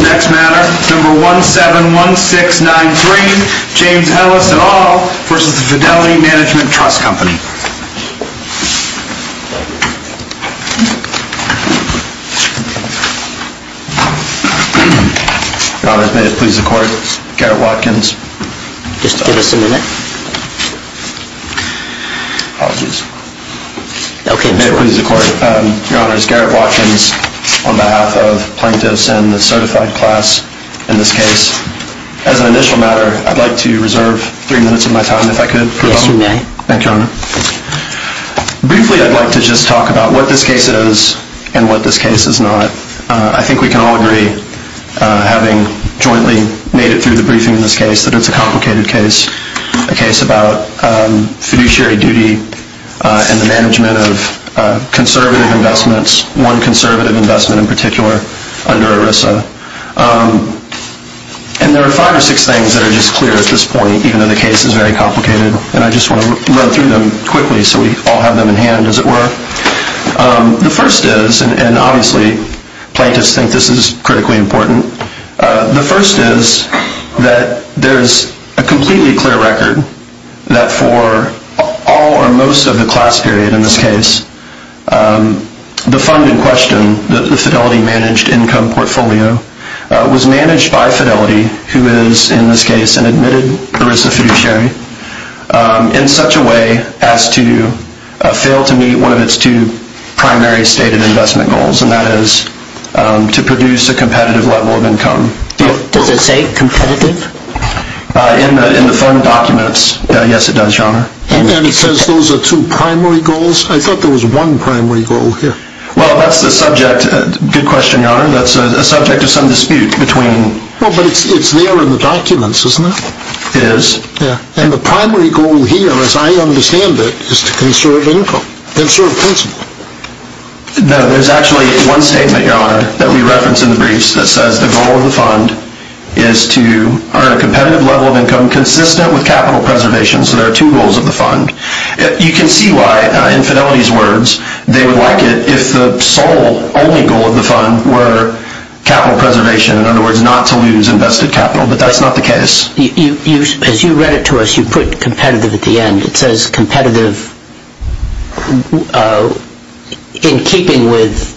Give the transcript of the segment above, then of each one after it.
Next matter, number 171693, James Ellis et al. versus the Fidelity Management Trust Company. Your Honor, may it please the Court, Garrett Watkins. Just give us a minute. Apologies. May it please the Court, Your Honor, it's Garrett Watkins on behalf of plaintiffs and the certified class in this case. As an initial matter, I'd like to reserve three minutes of my time, if I could. Yes, you may. Thank you, Your Honor. Briefly, I'd like to just talk about what this case is and what this case is not. I think we can all agree, having jointly made it through the briefing in this case, that it's a complicated case. A case about fiduciary duty and the management of conservative investments, one conservative investment in particular, under ERISA. And there are five or six things that are just clear at this point, even though the case is very complicated. And I just want to run through them quickly so we all have them in hand, as it were. The first is, and obviously plaintiffs think this is critically important, the first is that there's a completely clear record that for all or most of the class period in this case, the fund in question, the Fidelity managed income portfolio, was managed by Fidelity, who is in this case an admitted ERISA fiduciary, in such a way as to fail to meet one of its two primary stated investment goals. And that is to produce a competitive level of income. Does it say competitive? In the fund documents, yes it does, Your Honor. And it says those are two primary goals? I thought there was one primary goal here. Well, that's the subject, good question, Your Honor, that's a subject of some dispute between... Well, but it's there in the documents, isn't it? It is. And the primary goal here, as I understand it, is to conserve income, conserve principal. No, there's actually one statement, Your Honor, that we reference in the briefs that says the goal of the fund is to earn a competitive level of income consistent with capital preservation, so there are two goals of the fund. You can see why, in Fidelity's words, they would like it if the sole, only goal of the fund were capital preservation, in other words, not to lose invested capital, but that's not the case. As you read it to us, you put competitive at the end. It says competitive in keeping with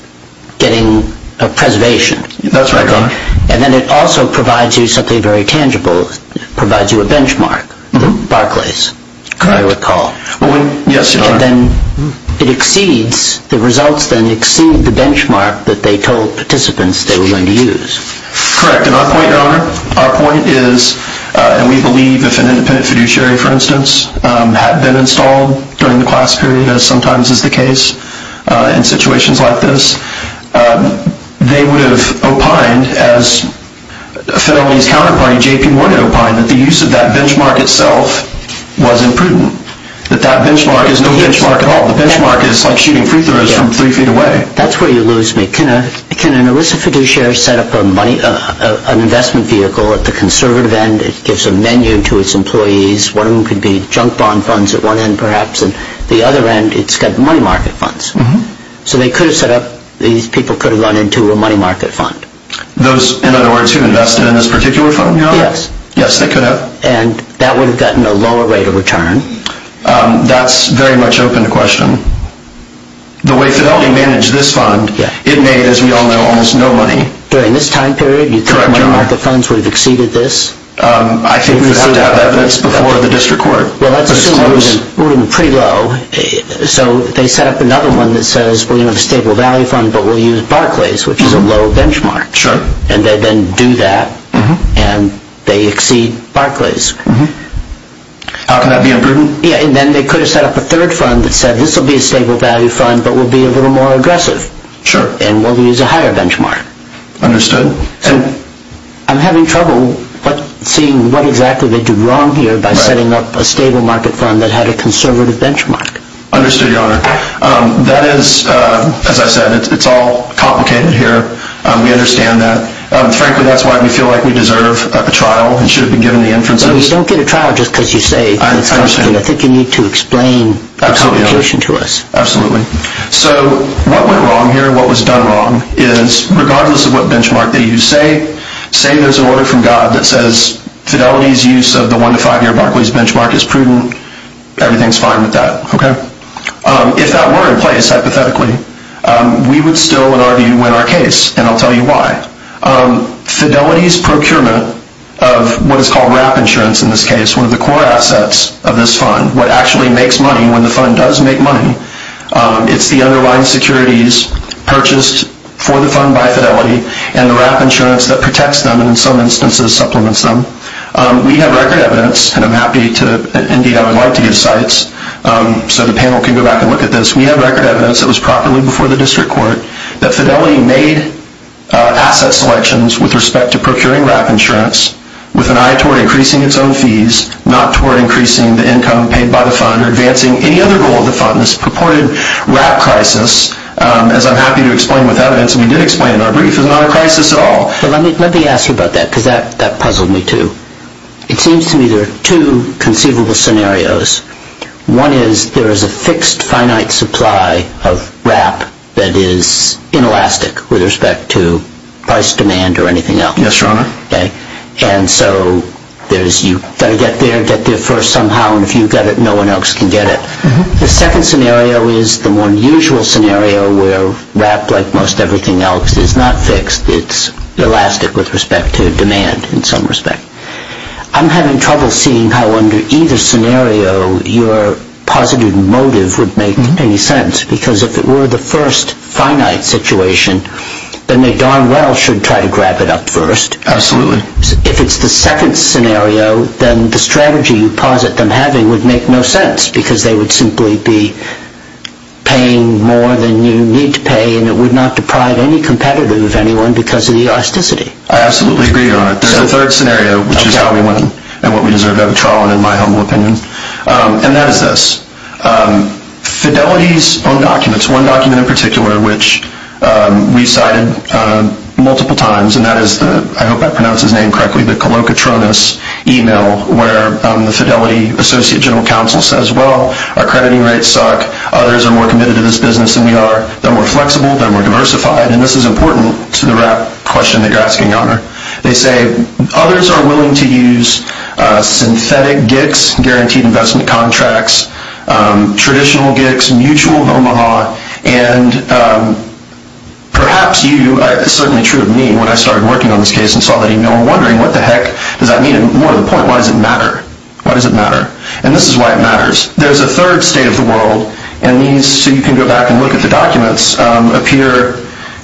getting a preservation. That's right, Your Honor. And then it also provides you something very tangible. It provides you a benchmark, Barclays, I recall. Yes, Your Honor. And then it exceeds, the results then exceed the benchmark that they told participants they were going to use. Correct. And our point, Your Honor, our point is, and we believe if an independent fiduciary, for instance, had been installed during the class period, as sometimes is the case in situations like this, they would have opined, as Fidelity's counterpart, J.P. Morgan, opined, that the use of that benchmark itself was imprudent, that that benchmark is no benchmark at all. The benchmark is like shooting free throws from three feet away. That's where you lose me. Can an illicit fiduciary set up an investment vehicle at the conservative end? It gives a menu to its employees. One of them could be junk bond funds at one end, perhaps. At the other end, it's got money market funds. So they could have set up, these people could have run into a money market fund. Those, in other words, who invested in this particular fund, Your Honor? Yes. Yes, they could have. And that would have gotten a lower rate of return. That's very much open to question. The way Fidelity managed this fund, it made, as we all know, almost no money. During this time period, you think money market funds would have exceeded this? I think we would have to have that evidence before the district court. Well, let's assume it was pretty low. So they set up another one that says, well, you have a stable value fund, but we'll use Barclays, which is a low benchmark. Sure. And they then do that, and they exceed Barclays. How can that be imprudent? And then they could have set up a third fund that said, this will be a stable value fund, but we'll be a little more aggressive. Sure. And we'll use a higher benchmark. Understood. I'm having trouble seeing what exactly they did wrong here by setting up a stable market fund that had a conservative benchmark. Understood, Your Honor. That is, as I said, it's all complicated here. We understand that. Frankly, that's why we feel like we deserve a trial. It should have been given the inferences. You don't get a trial just because you say it's complicated. I think you need to explain the complication to us. Absolutely. So what went wrong here and what was done wrong is, regardless of what benchmark they use, say there's an order from God that says fidelity's use of the one- to five-year Barclays benchmark is prudent. Everything's fine with that. Okay. If that were in place, hypothetically, we would still, in our view, win our case. And I'll tell you why. Fidelity's procurement of what is called RAP insurance in this case, one of the core assets of this fund, what actually makes money, when the fund does make money, it's the underlying securities purchased for the fund by Fidelity and the RAP insurance that protects them and, in some instances, supplements them. We have record evidence, and I'm happy to, indeed, I would like to give sites so the panel can go back and look at this. We have record evidence that was properly before the district court that Fidelity made asset selections with respect to procuring RAP insurance with an eye toward increasing its own fees, not toward increasing the income paid by the fund or advancing any other goal of the fund. This purported RAP crisis, as I'm happy to explain with evidence, and we did explain in our brief, is not a crisis at all. Let me ask you about that because that puzzled me too. It seems to me there are two conceivable scenarios. One is there is a fixed finite supply of RAP that is inelastic with respect to price demand or anything else. Yes, Your Honor. And so you've got to get there, get there first somehow, and if you've got it, no one else can get it. The second scenario is the more unusual scenario where RAP, like most everything else, is not fixed. It's elastic with respect to demand in some respect. I'm having trouble seeing how under either scenario your positive motive would make any sense because if it were the first finite situation, then they darn well should try to grab it up first. Absolutely. If it's the second scenario, then the strategy you posit them having would make no sense because they would simply be paying more than you need to pay and it would not deprive any competitor of anyone because of the elasticity. I absolutely agree, Your Honor. The third scenario, which is how we win and what we deserve to have a trial in, in my humble opinion, and that is this. Fidelity's own documents, one document in particular, which we cited multiple times, and that is the, I hope I pronounced his name correctly, the colocatronis email where the Fidelity Associate General Counsel says, well, our crediting rates suck, others are more committed to this business than we are, they're more flexible, they're more diversified, and this is important to the RAP question that you're asking, Your Honor. They say others are willing to use synthetic GICs, Guaranteed Investment Contracts, traditional GICs, mutual Omaha, and perhaps you, certainly true of me, when I started working on this case and saw that email, I'm wondering what the heck does that mean, and more to the point, why does it matter? Why does it matter? And this is why it matters. There's a third state of the world, and these, so you can go back and look at the documents, appear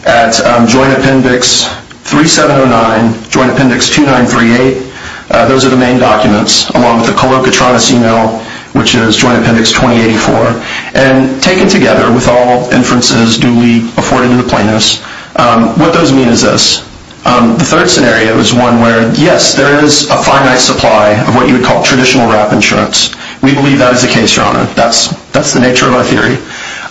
at Joint Appendix 3709, Joint Appendix 2938, those are the main documents, along with the colocatronis email, which is Joint Appendix 2084, and taken together with all inferences duly afforded to the plaintiffs, what those mean is this. The third scenario is one where, yes, there is a finite supply of what you would call traditional RAP insurance. We believe that is the case, Your Honor. That's the nature of our theory.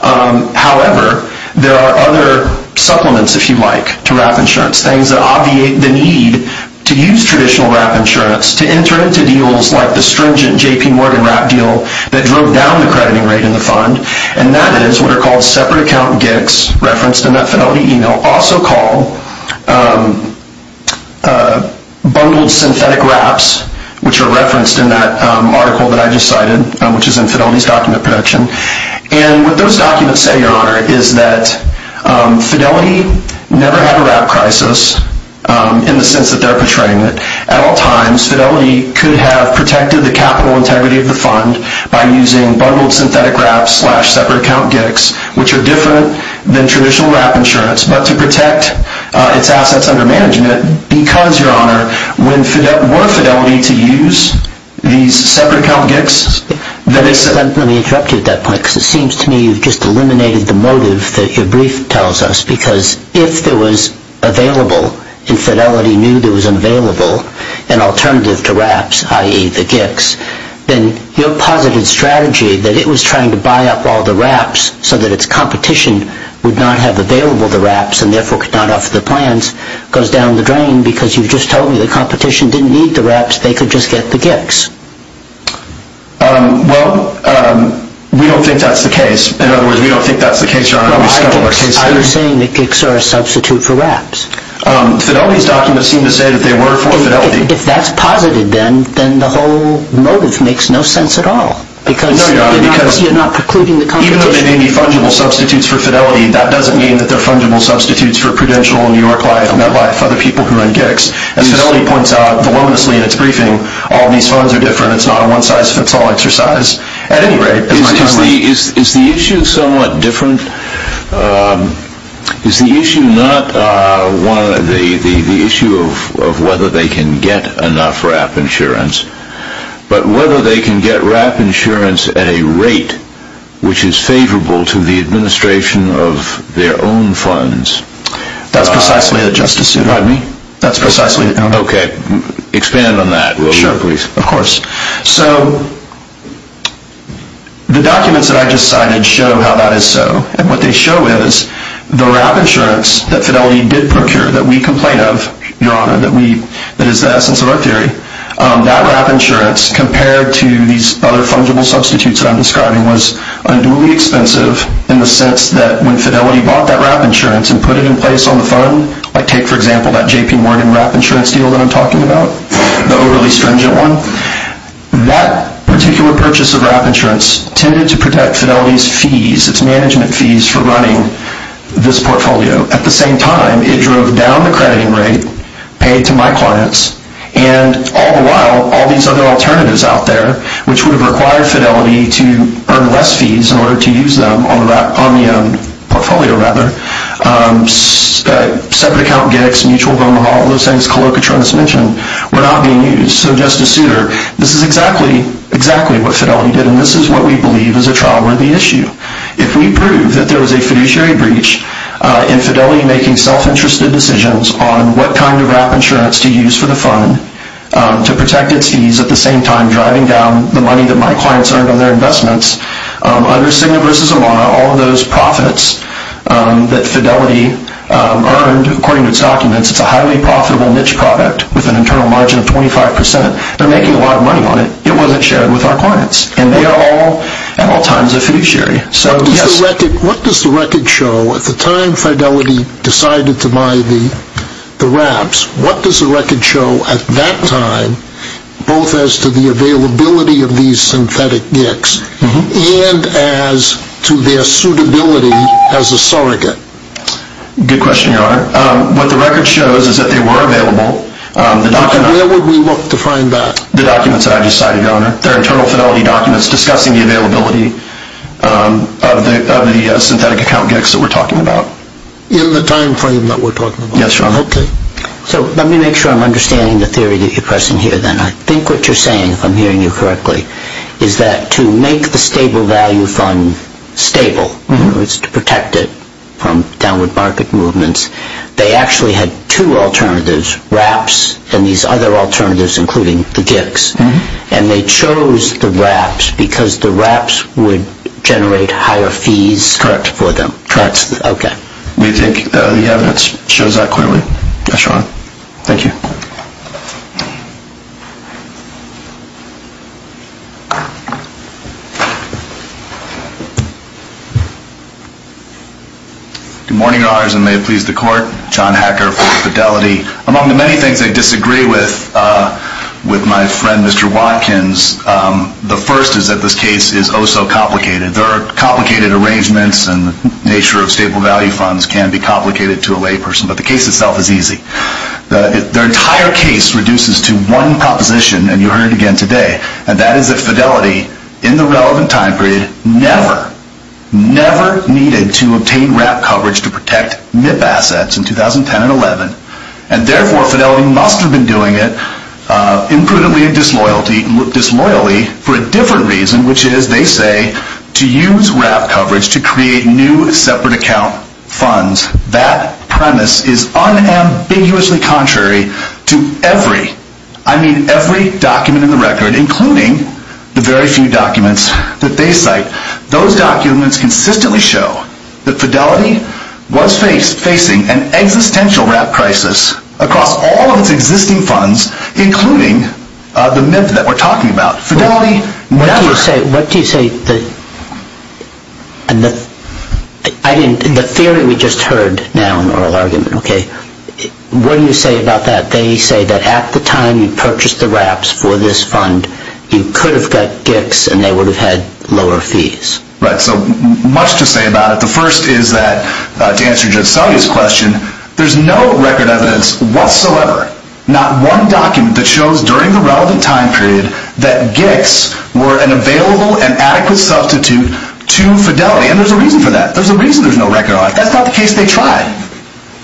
However, there are other supplements, if you like, to RAP insurance, things that obviate the need to use traditional RAP insurance to enter into deals like the stringent J.P. Morgan RAP deal that drove down the crediting rate in the fund, and that is what are called separate account GICs, referenced in that Fidelity email, also called bundled synthetic RAPs, which are referenced in that article that I just cited, which is in Fidelity's document production, and what those documents say, Your Honor, is that Fidelity never had a RAP crisis in the sense that they're portraying it. At all times, Fidelity could have protected the capital integrity of the fund by using bundled synthetic RAPs slash separate account GICs, which are different than traditional RAP insurance, but to protect its assets under management because, Your Honor, were Fidelity to use these separate account GICs, Let me interrupt you at that point, because it seems to me you've just eliminated the motive that your brief tells us, because if there was available, and Fidelity knew there was available, an alternative to RAPs, i.e. the GICs, then your positive strategy that it was trying to buy up all the RAPs so that its competition would not have available the RAPs and therefore could not offer the plans, goes down the drain because you've just told me the competition didn't need the RAPs, they could just get the GICs. Well, we don't think that's the case. In other words, we don't think that's the case, Your Honor. Are you saying that GICs are a substitute for RAPs? Fidelity's documents seem to say that they were for Fidelity. If that's positive, then the whole motive makes no sense at all, because you're not precluding the competition. Even though they may be fungible substitutes for Fidelity, that doesn't mean that they're fungible substitutes for Prudential, New York Life, MetLife, other people who run GICs. As Fidelity points out, voluminously in its briefing, all these funds are different, it's not a one-size-fits-all exercise. At any rate... Is the issue somewhat different? Is the issue not the issue of whether they can get enough RAP insurance, but whether they can get RAP insurance at a rate which is favorable to the administration of their own funds? That's precisely the justice... Pardon me? That's precisely... Okay, expand on that. Sure, of course. So, the documents that I just cited show how that is so. And what they show is the RAP insurance that Fidelity did procure, that we complain of, Your Honor, that is the essence of our theory, that RAP insurance compared to these other fungible substitutes that I'm describing was unduly expensive in the sense that when Fidelity bought that RAP insurance and put it in place on the fund, like take, for example, that J.P. Morgan RAP insurance deal that I'm talking about, the overly stringent one, that particular purchase of RAP insurance tended to protect Fidelity's fees, its management fees, for running this portfolio. At the same time, it drove down the crediting rate paid to my clients, and all the while, all these other alternatives out there, which would have required Fidelity to earn less fees in order to use them on their own portfolio, rather. Separate account gigs, mutual home haul, those things Calocatronis mentioned, were not being used. So, Justice Souter, this is exactly what Fidelity did, and this is what we believe is a trial-worthy issue. If we prove that there was a fiduciary breach in Fidelity making self-interested decisions on what kind of RAP insurance to use for the fund to protect its fees, at the same time driving down the money that my clients earned on their investments, under Cigna versus Amana, all of those profits that Fidelity earned, according to its documents, it's a highly profitable niche product with an internal margin of 25%. They're making a lot of money on it. It wasn't shared with our clients. And they are all, at all times, a fiduciary. What does the record show? At the time Fidelity decided to buy the RAPs, what does the record show at that time, both as to the availability of these synthetic GICs, and as to their suitability as a surrogate? Good question, Your Honor. What the record shows is that they were available. Where would we look to find that? The documents that I just cited, Your Honor. They're internal Fidelity documents discussing the availability of the synthetic account GICs that we're talking about. In the time frame that we're talking about? Yes, Your Honor. So let me make sure I'm understanding the theory that you're pressing here, then. I think what you're saying, if I'm hearing you correctly, is that to make the stable value fund stable, in other words, to protect it from downward market movements, they actually had two alternatives, RAPs and these other alternatives, including the GICs. And they chose the RAPs because the RAPs would generate higher fees for them. Correct. Okay. Do you think the evidence shows that clearly? Yes, Your Honor. Thank you. Good morning, Your Honors, and may it please the Court. John Hacker for Fidelity. Among the many things I disagree with with my friend, Mr. Watkins, the first is that this case is oh so complicated. There are complicated arrangements, and the nature of stable value funds can be complicated to a layperson, but the case itself is easy. The entire case reduces to one proposition, and you'll hear it again today, and that is that Fidelity, in the relevant time period, never, never needed to obtain RAP coverage to protect NIP assets in 2010 and 2011, and therefore Fidelity must have been doing it imprudently and disloyally for a different reason, which is, they say, to use RAP coverage to create new separate account funds. That premise is unambiguously contrary to every, I mean every document in the record, including the very few documents that they cite. Those documents consistently show that Fidelity was facing an existential RAP crisis across all of its existing funds, including the NIP that we're talking about. Fidelity never. What do you say, what do you say, and the theory we just heard now in oral argument, okay, what do you say about that? They say that at the time you purchased the RAPs for this fund, you could have got GICs, and they would have had lower fees. Right, so much to say about it. The first is that, to answer Jeff's question, there's no record evidence whatsoever, not one document that shows during the relevant time period that GICs were an available and adequate substitute to Fidelity, and there's a reason for that. There's a reason there's no record on it. That's not the case they tried.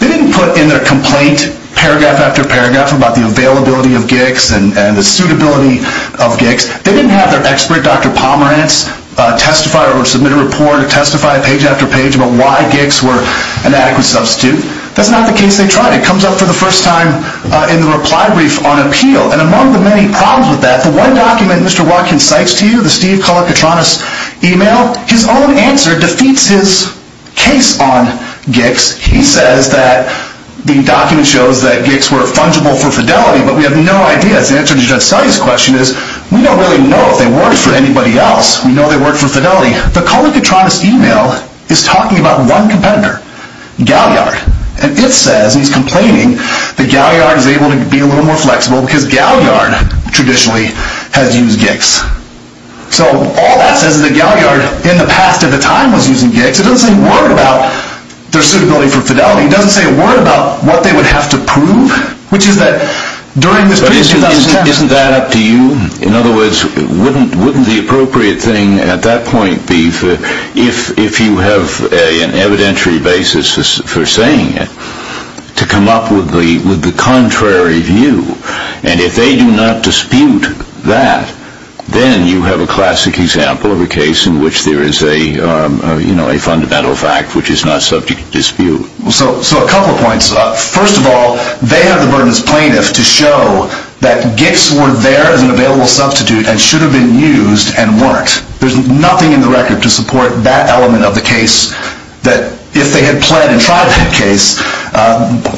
They didn't put in their complaint, paragraph after paragraph, about the availability of GICs and the suitability of GICs. They didn't have their expert, Dr. Pomerantz, testify or submit a report or testify page after page about why GICs were an adequate substitute. That's not the case they tried. It comes up for the first time in the reply brief on appeal, and among the many problems with that, the one document Mr. Watkins cites to you, the Steve Kolokotronis email, his own answer defeats his case on GICs. He says that the document shows that GICs were fungible for Fidelity, but we have no idea. The answer to Jeff's question is we don't really know if they worked for anybody else. We know they worked for Fidelity. The Kolokotronis email is talking about one competitor, Galliard, and it says, and he's complaining, that Galliard is able to be a little more flexible because Galliard traditionally has used GICs. So all that says is that Galliard, in the past at the time, was using GICs. It doesn't say a word about their suitability for Fidelity. It doesn't say a word about what they would have to prove, which is that during this period in 2010. Isn't that up to you? In other words, wouldn't the appropriate thing at that point be if you have an evidentiary basis for saying it, to come up with the contrary view? And if they do not dispute that, then you have a classic example of a case in which there is a fundamental fact which is not subject to dispute. So a couple of points. First of all, they have the burden as plaintiff to show that GICs were there as an available substitute and should have been used and weren't. There's nothing in the record to support that element of the case that if they had pled and tried that case,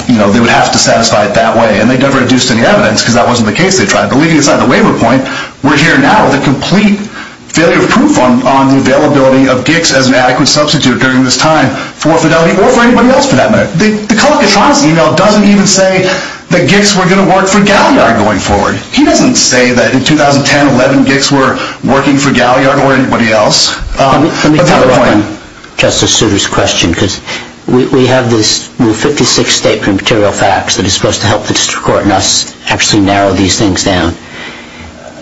they would have to satisfy it that way. And they never induced any evidence because that wasn't the case they tried. But leaving aside the waiver point, we're here now with a complete failure of proof on the availability of GICs as an adequate substitute during this time for Fidelity or for anybody else for that matter. The Calacatronis email doesn't even say that GICs were going to work for Galliard going forward. He doesn't say that in 2010-11 GICs were working for Galliard or anybody else. Let me follow up on Justice Souter's question because we have this rule 56 statement of material facts that is supposed to help the district court and us actually narrow these things down.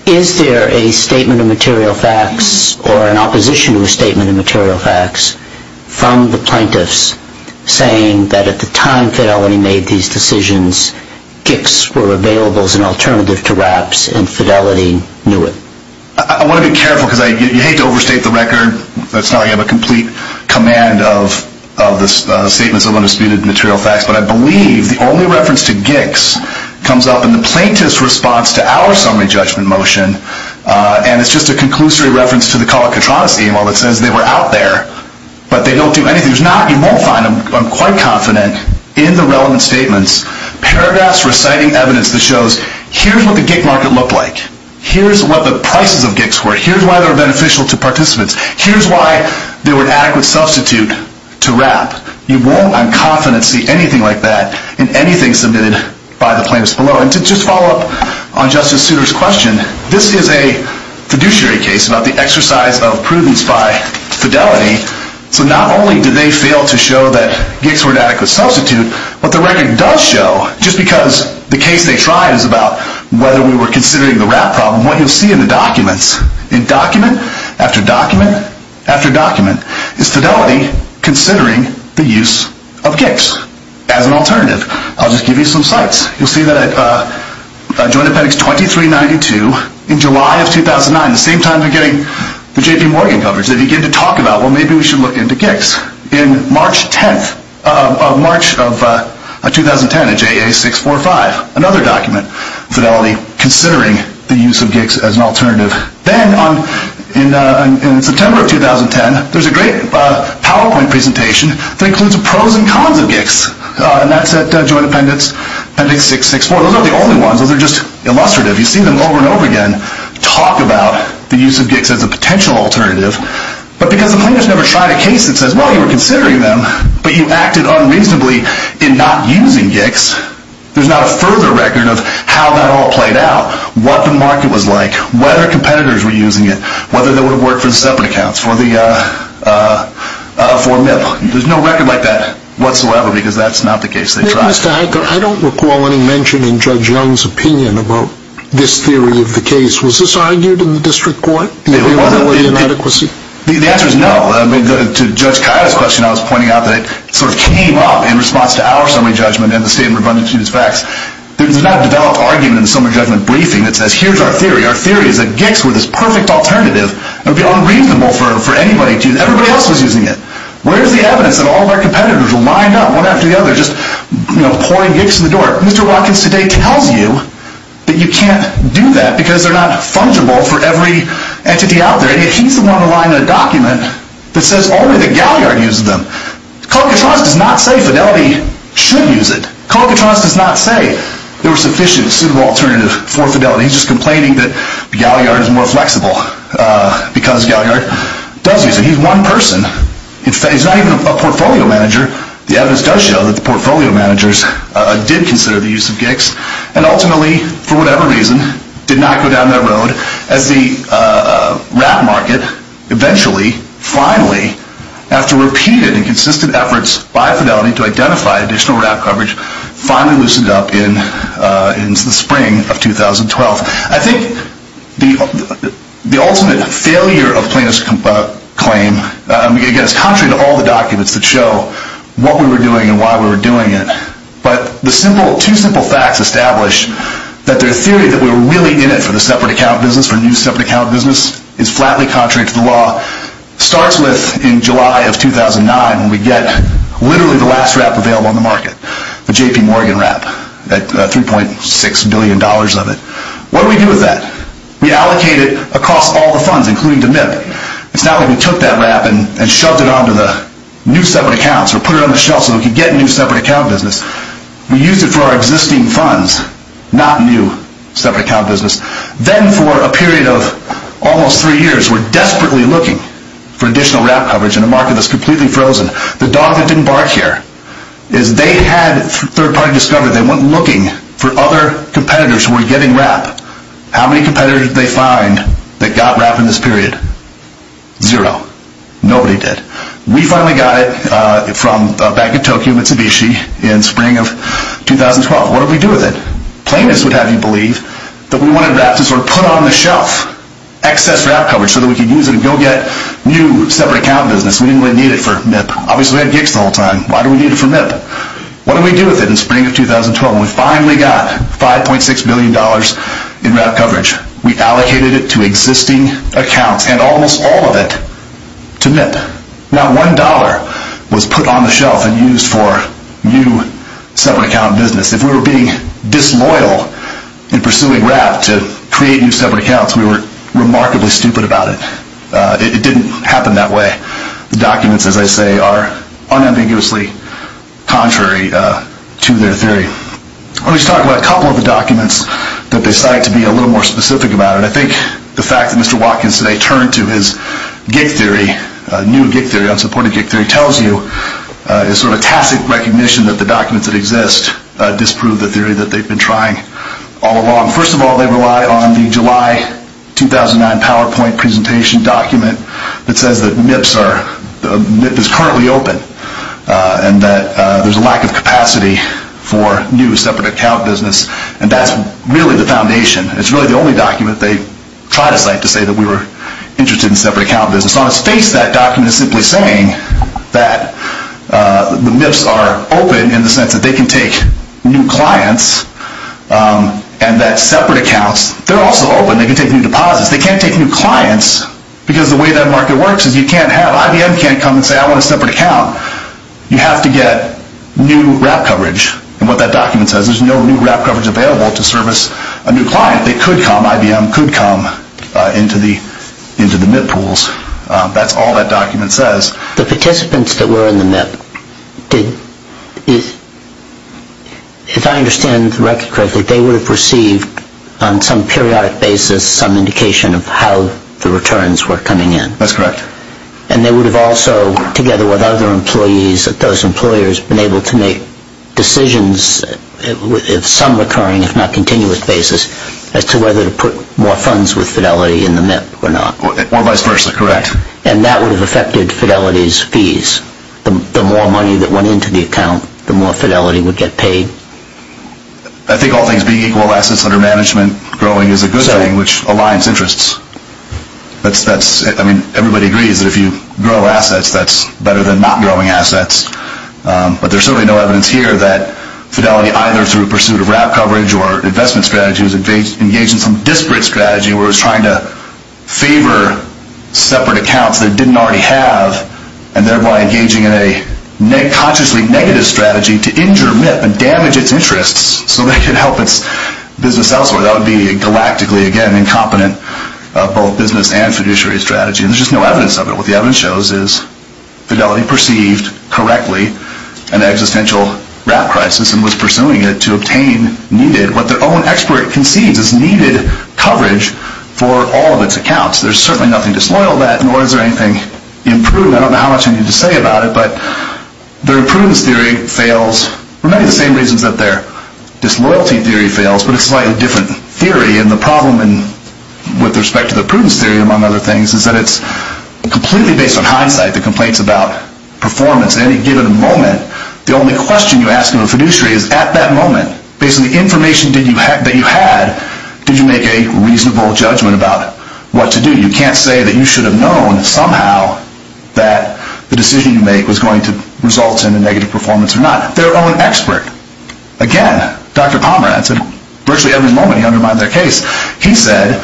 Is there a statement of material facts or an opposition to a statement of material facts from the plaintiffs saying that at the time Fidelity made these decisions, GICs were available as an alternative to wraps and Fidelity knew it? I want to be careful because you hate to overstate the record. That's not a complete command of the statements of undisputed material facts. But I believe the only reference to GICs comes up in the plaintiff's response to our summary judgment motion. And it's just a conclusory reference to the Calacatronis email that says they were out there, but they don't do anything. You won't find them, I'm quite confident, in the relevant statements paragraphs reciting evidence that shows here's what the GIC market looked like, here's what the prices of GICs were, here's why they were beneficial to participants, here's why they were an adequate substitute to wrap. You won't, I'm confident, see anything like that in anything submitted by the plaintiffs below. And to just follow up on Justice Souter's question, this is a fiduciary case about the exercise of prudence by Fidelity, so not only did they fail to show that GICs were an adequate substitute, but the record does show, just because the case they tried is about whether we were considering the wrap problem, what you'll see in the documents, in document after document after document, is Fidelity considering the use of GICs as an alternative. I'll just give you some sites. You'll see that at Joint Appendix 2392 in July of 2009, the same time they're getting the JP Morgan coverage, they begin to talk about, well, maybe we should look into GICs. In March of 2010, in JA 645, another document, Fidelity considering the use of GICs as an alternative. Then in September of 2010, there's a great PowerPoint presentation that includes the pros and cons of GICs, and that's at Joint Appendix 664. Those aren't the only ones, those are just illustrative. You see them over and over again talk about the use of GICs as a potential alternative, but because the plaintiffs never tried a case that says, well, you were considering them, but you acted unreasonably in not using GICs, there's not a further record of how that all played out, what the market was like, whether competitors were using it, whether they would have worked for separate accounts for MIP. There's no record like that whatsoever, because that's not the case they tried. Mr. Heitker, I don't recall any mention in Judge Young's opinion about this theory of the case. Was this argued in the district court? The answer is no. To Judge Cahill's question, I was pointing out that it sort of came up in response to our summary judgment and the state of rebundant to use facts. There's not a developed argument in the summary judgment briefing that says, here's our theory. Our theory is that GICs were this perfect alternative. It would be unreasonable for anybody to use it. Everybody else was using it. Where's the evidence that all of our competitors lined up one after the other, just pouring GICs in the door? Mr. Watkins today tells you that you can't do that because they're not fungible for every entity out there. And yet he's the one to line a document that says only that Galliard used them. Kolkatronis does not say Fidelity should use it. Kolkatronis does not say there were sufficient, suitable alternatives for Fidelity. He's just complaining that Galliard is more flexible because Galliard does use it. He's one person. He's not even a portfolio manager. The evidence does show that the portfolio managers did consider the use of GICs and ultimately, for whatever reason, did not go down that road as the rat market eventually, finally, after repeated and consistent efforts by Fidelity to identify additional rat coverage, finally loosened up in the spring of 2012. I think the ultimate failure of plaintiff's claim, again, it's contrary to all the documents that show what we were doing and why we were doing it, but the two simple facts establish that the theory that we were really in it for the separate account business, for new separate account business, is flatly contrary to the law. It starts with, in July of 2009, when we get literally the last RAP available on the market, the J.P. Morgan RAP at $3.6 billion of it. What do we do with that? We allocate it across all the funds, including to MIP. It's not like we took that RAP and shoved it onto the new separate accounts or put it on the shelf so we could get new separate account business. We used it for our existing funds, not new separate account business. Then, for a period of almost three years, we're desperately looking for additional RAP coverage in a market that's completely frozen. The dog that didn't bark here is they had third-party discovery. They went looking for other competitors who were getting RAP. How many competitors did they find that got RAP in this period? Zero. Nobody did. We finally got it from Bank of Tokyo Mitsubishi in spring of 2012. What did we do with it? Plaintiffs would have you believe that we wanted RAP to sort of put on the shelf, excess RAP coverage, so that we could use it and go get new separate account business. We didn't really need it for MIP. Obviously, we had gigs the whole time. Why do we need it for MIP? What did we do with it in spring of 2012? We finally got $5.6 billion in RAP coverage. We allocated it to existing accounts and almost all of it to MIP. Not one dollar was put on the shelf and used for new separate account business. If we were being disloyal in pursuing RAP to create new separate accounts, we were remarkably stupid about it. It didn't happen that way. The documents, as I say, are unambiguously contrary to their theory. Let me just talk about a couple of the documents that they cite to be a little more specific about it. I think the fact that Mr. Watkins today turned to his gig theory, new gig theory, unsupported gig theory, tells you a sort of tacit recognition that the documents that exist disprove the theory that they've been trying all along. First of all, they rely on the July 2009 PowerPoint presentation document that says that MIP is currently open and that there's a lack of capacity for new separate account business. And that's really the foundation. It's really the only document they try to cite to say that we were interested in separate account business. On its face, that document is simply saying that the MIPs are open in the sense that they can take new clients and that separate accounts, they're also open. They can take new deposits. They can't take new clients because the way that market works is you can't have, you have to get new RAP coverage. And what that document says is there's no new RAP coverage available to service a new client. They could come, IBM could come into the MIP pools. That's all that document says. The participants that were in the MIP, if I understand the record correctly, they would have received on some periodic basis some indication of how the returns were coming in. That's correct. And they would have also, together with other employees, that those employers have been able to make decisions on some recurring, if not continuous basis, as to whether to put more funds with Fidelity in the MIP or not. Or vice versa, correct. And that would have affected Fidelity's fees. The more money that went into the account, the more Fidelity would get paid. I think all things being equal assets under management growing is a good thing, which aligns interests. I mean, everybody agrees that if you grow assets, that's better than not growing assets. But there's certainly no evidence here that Fidelity, either through pursuit of RAP coverage or investment strategies, engaged in some disparate strategy where it was trying to favor separate accounts that it didn't already have and thereby engaging in a consciously negative strategy to injure MIP and damage its interests so they could help its business elsewhere. That would be galactically, again, incompetent of both business and fiduciary strategy. And there's just no evidence of it. What the evidence shows is Fidelity perceived correctly an existential RAP crisis and was pursuing it to obtain needed, what their own expert concedes is needed, coverage for all of its accounts. There's certainly nothing disloyal about it, nor is there anything imprudent. I don't know how much I need to say about it, but their imprudence theory fails for many of the same reasons that their disloyalty theory fails, but it's a slightly different theory. And the problem with respect to the prudence theory, among other things, is that it's completely based on hindsight, the complaints about performance. At any given moment, the only question you ask of a fiduciary is at that moment, based on the information that you had, did you make a reasonable judgment about what to do? You can't say that you should have known somehow that the decision you made was going to result in a negative performance or not. Again, Dr. Pomerantz, at virtually every moment he undermined their case. He said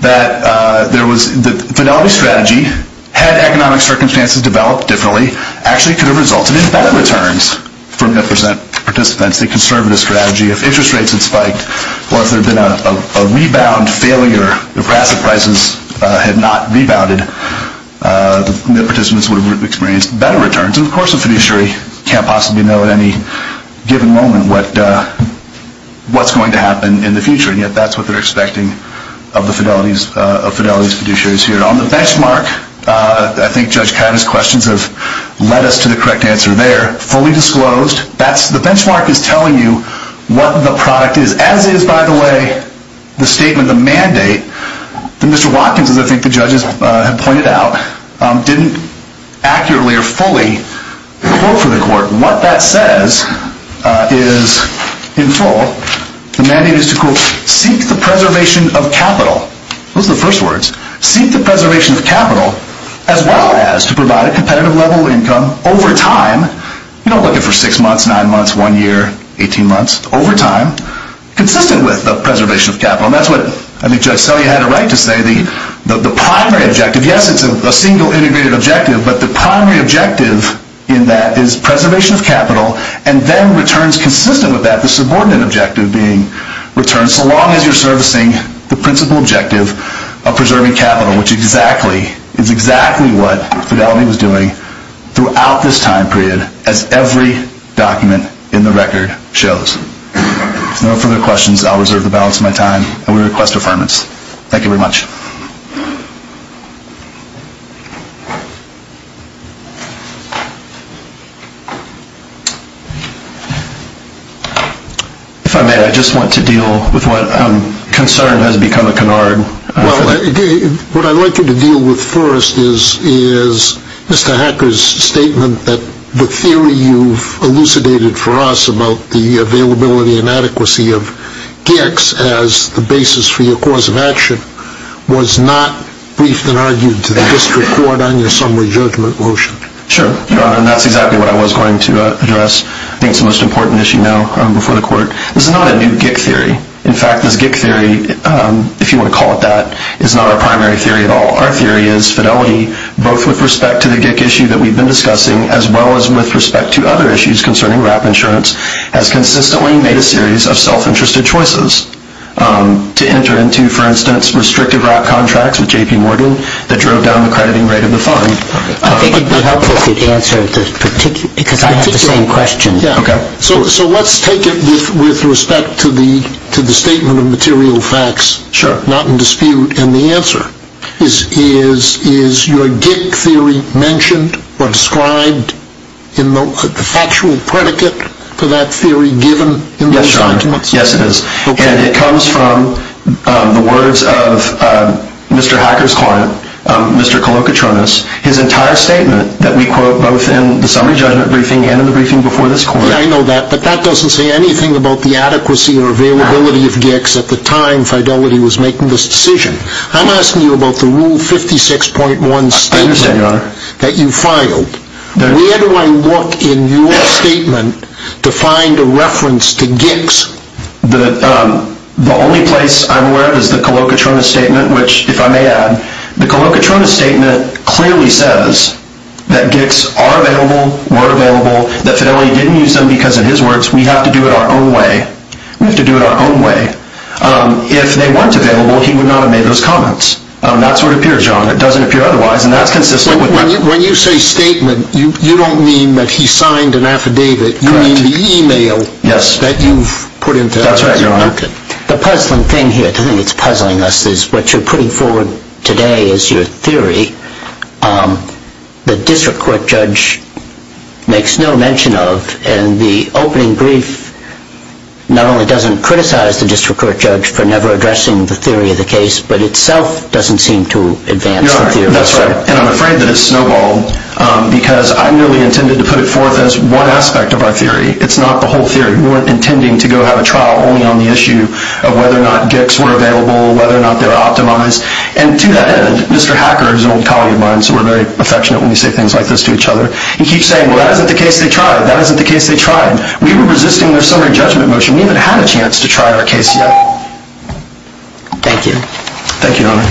that the Fidelity strategy, had economic circumstances developed differently, actually could have resulted in better returns for net percent participants. The conservative strategy, if interest rates had spiked, or if there had been a rebound failure, if asset prices had not rebounded, the participants would have experienced better returns. Of course, a fiduciary can't possibly know at any given moment what's going to happen in the future, and yet that's what they're expecting of the Fidelity's fiduciaries here. On the benchmark, I think Judge Kida's questions have led us to the correct answer there. Fully disclosed, the benchmark is telling you what the product is. As is, by the way, the statement, the mandate, that Mr. Watkins, as I think the judges have pointed out, didn't accurately or fully quote for the court. What that says is, in full, the mandate is to quote, seek the preservation of capital. Those are the first words. Seek the preservation of capital as well as to provide a competitive level income over time. You don't look at it for six months, nine months, one year, 18 months. Over time, consistent with the preservation of capital. And that's what I think Judge Selye had it right to say. The primary objective, yes, it's a single integrated objective, but the primary objective in that is preservation of capital, and then returns consistent with that, the subordinate objective being returns so long as you're servicing the principal objective of preserving capital, which is exactly what Fidelity was doing throughout this time period, as every document in the record shows. If there are no further questions, I'll reserve the balance of my time, and we request affirmance. Thank you very much. If I may, I just want to deal with what concern has become a canard. What I'd like you to deal with first is Mr. Hacker's statement that the theory you've elucidated for us about the availability and adequacy of GICs as the basis for your cause of action was not briefed and argued to the district court on your summary judgment motion. Sure. And that's exactly what I was going to address. I think it's the most important issue now before the court. This is not a new GIC theory. In fact, this GIC theory, if you want to call it that, is not our primary theory at all. Our theory is Fidelity, both with respect to the GIC issue that we've been discussing, as well as with respect to other issues concerning WRAP insurance, has consistently made a series of self-interested choices to enter into, for instance, restricted WRAP contracts with J.P. Morgan that drove down the crediting rate of the fund. I think it would be helpful if you'd answer, because I have the same question. Okay. So let's take it with respect to the statement of material facts, not in dispute. And the answer is, is your GIC theory mentioned or described in the factual predicate for that theory given in those documents? Yes, it is. And it comes from the words of Mr. Hacker's client, Mr. Kolokotronis, his entire statement that we quote both in the summary judgment briefing and in the briefing before this court. Yeah, I know that. But that doesn't say anything about the adequacy or availability of GICs at the time Fidelity was making this decision. I'm asking you about the Rule 56.1 statement that you filed. I understand, Your Honor. Where do I look in your statement to find a reference to GICs? The only place I'm aware of is the Kolokotronis statement, which, if I may add, the Kolokotronis statement clearly says that GICs are available, were available, that Fidelity didn't use them because, in his words, we have to do it our own way. We have to do it our own way. If they weren't available, he would not have made those comments. That's what appears, Your Honor. It doesn't appear otherwise, and that's consistent with that. When you say statement, you don't mean that he signed an affidavit. Correct. You mean the e-mail that you've put in to us. That's right, Your Honor. The puzzling thing here, to think it's puzzling us, is what you're putting forward today is your theory. The district court judge makes no mention of, and the opening brief not only doesn't criticize the district court judge for never addressing the theory of the case, but itself doesn't seem to advance the theory. That's right, and I'm afraid that it's snowballed because I merely intended to put it forth as one aspect of our theory. It's not the whole theory. We weren't intending to go have a trial only on the issue of whether or not GICs were available, whether or not they were optimized. And to that end, Mr. Hacker, who's an old colleague of mine, so we're very affectionate when we say things like this to each other, he keeps saying, well, that isn't the case they tried. That isn't the case they tried. We were resisting their summary judgment motion. We haven't had a chance to try our case yet. Thank you. Thank you, Your Honor.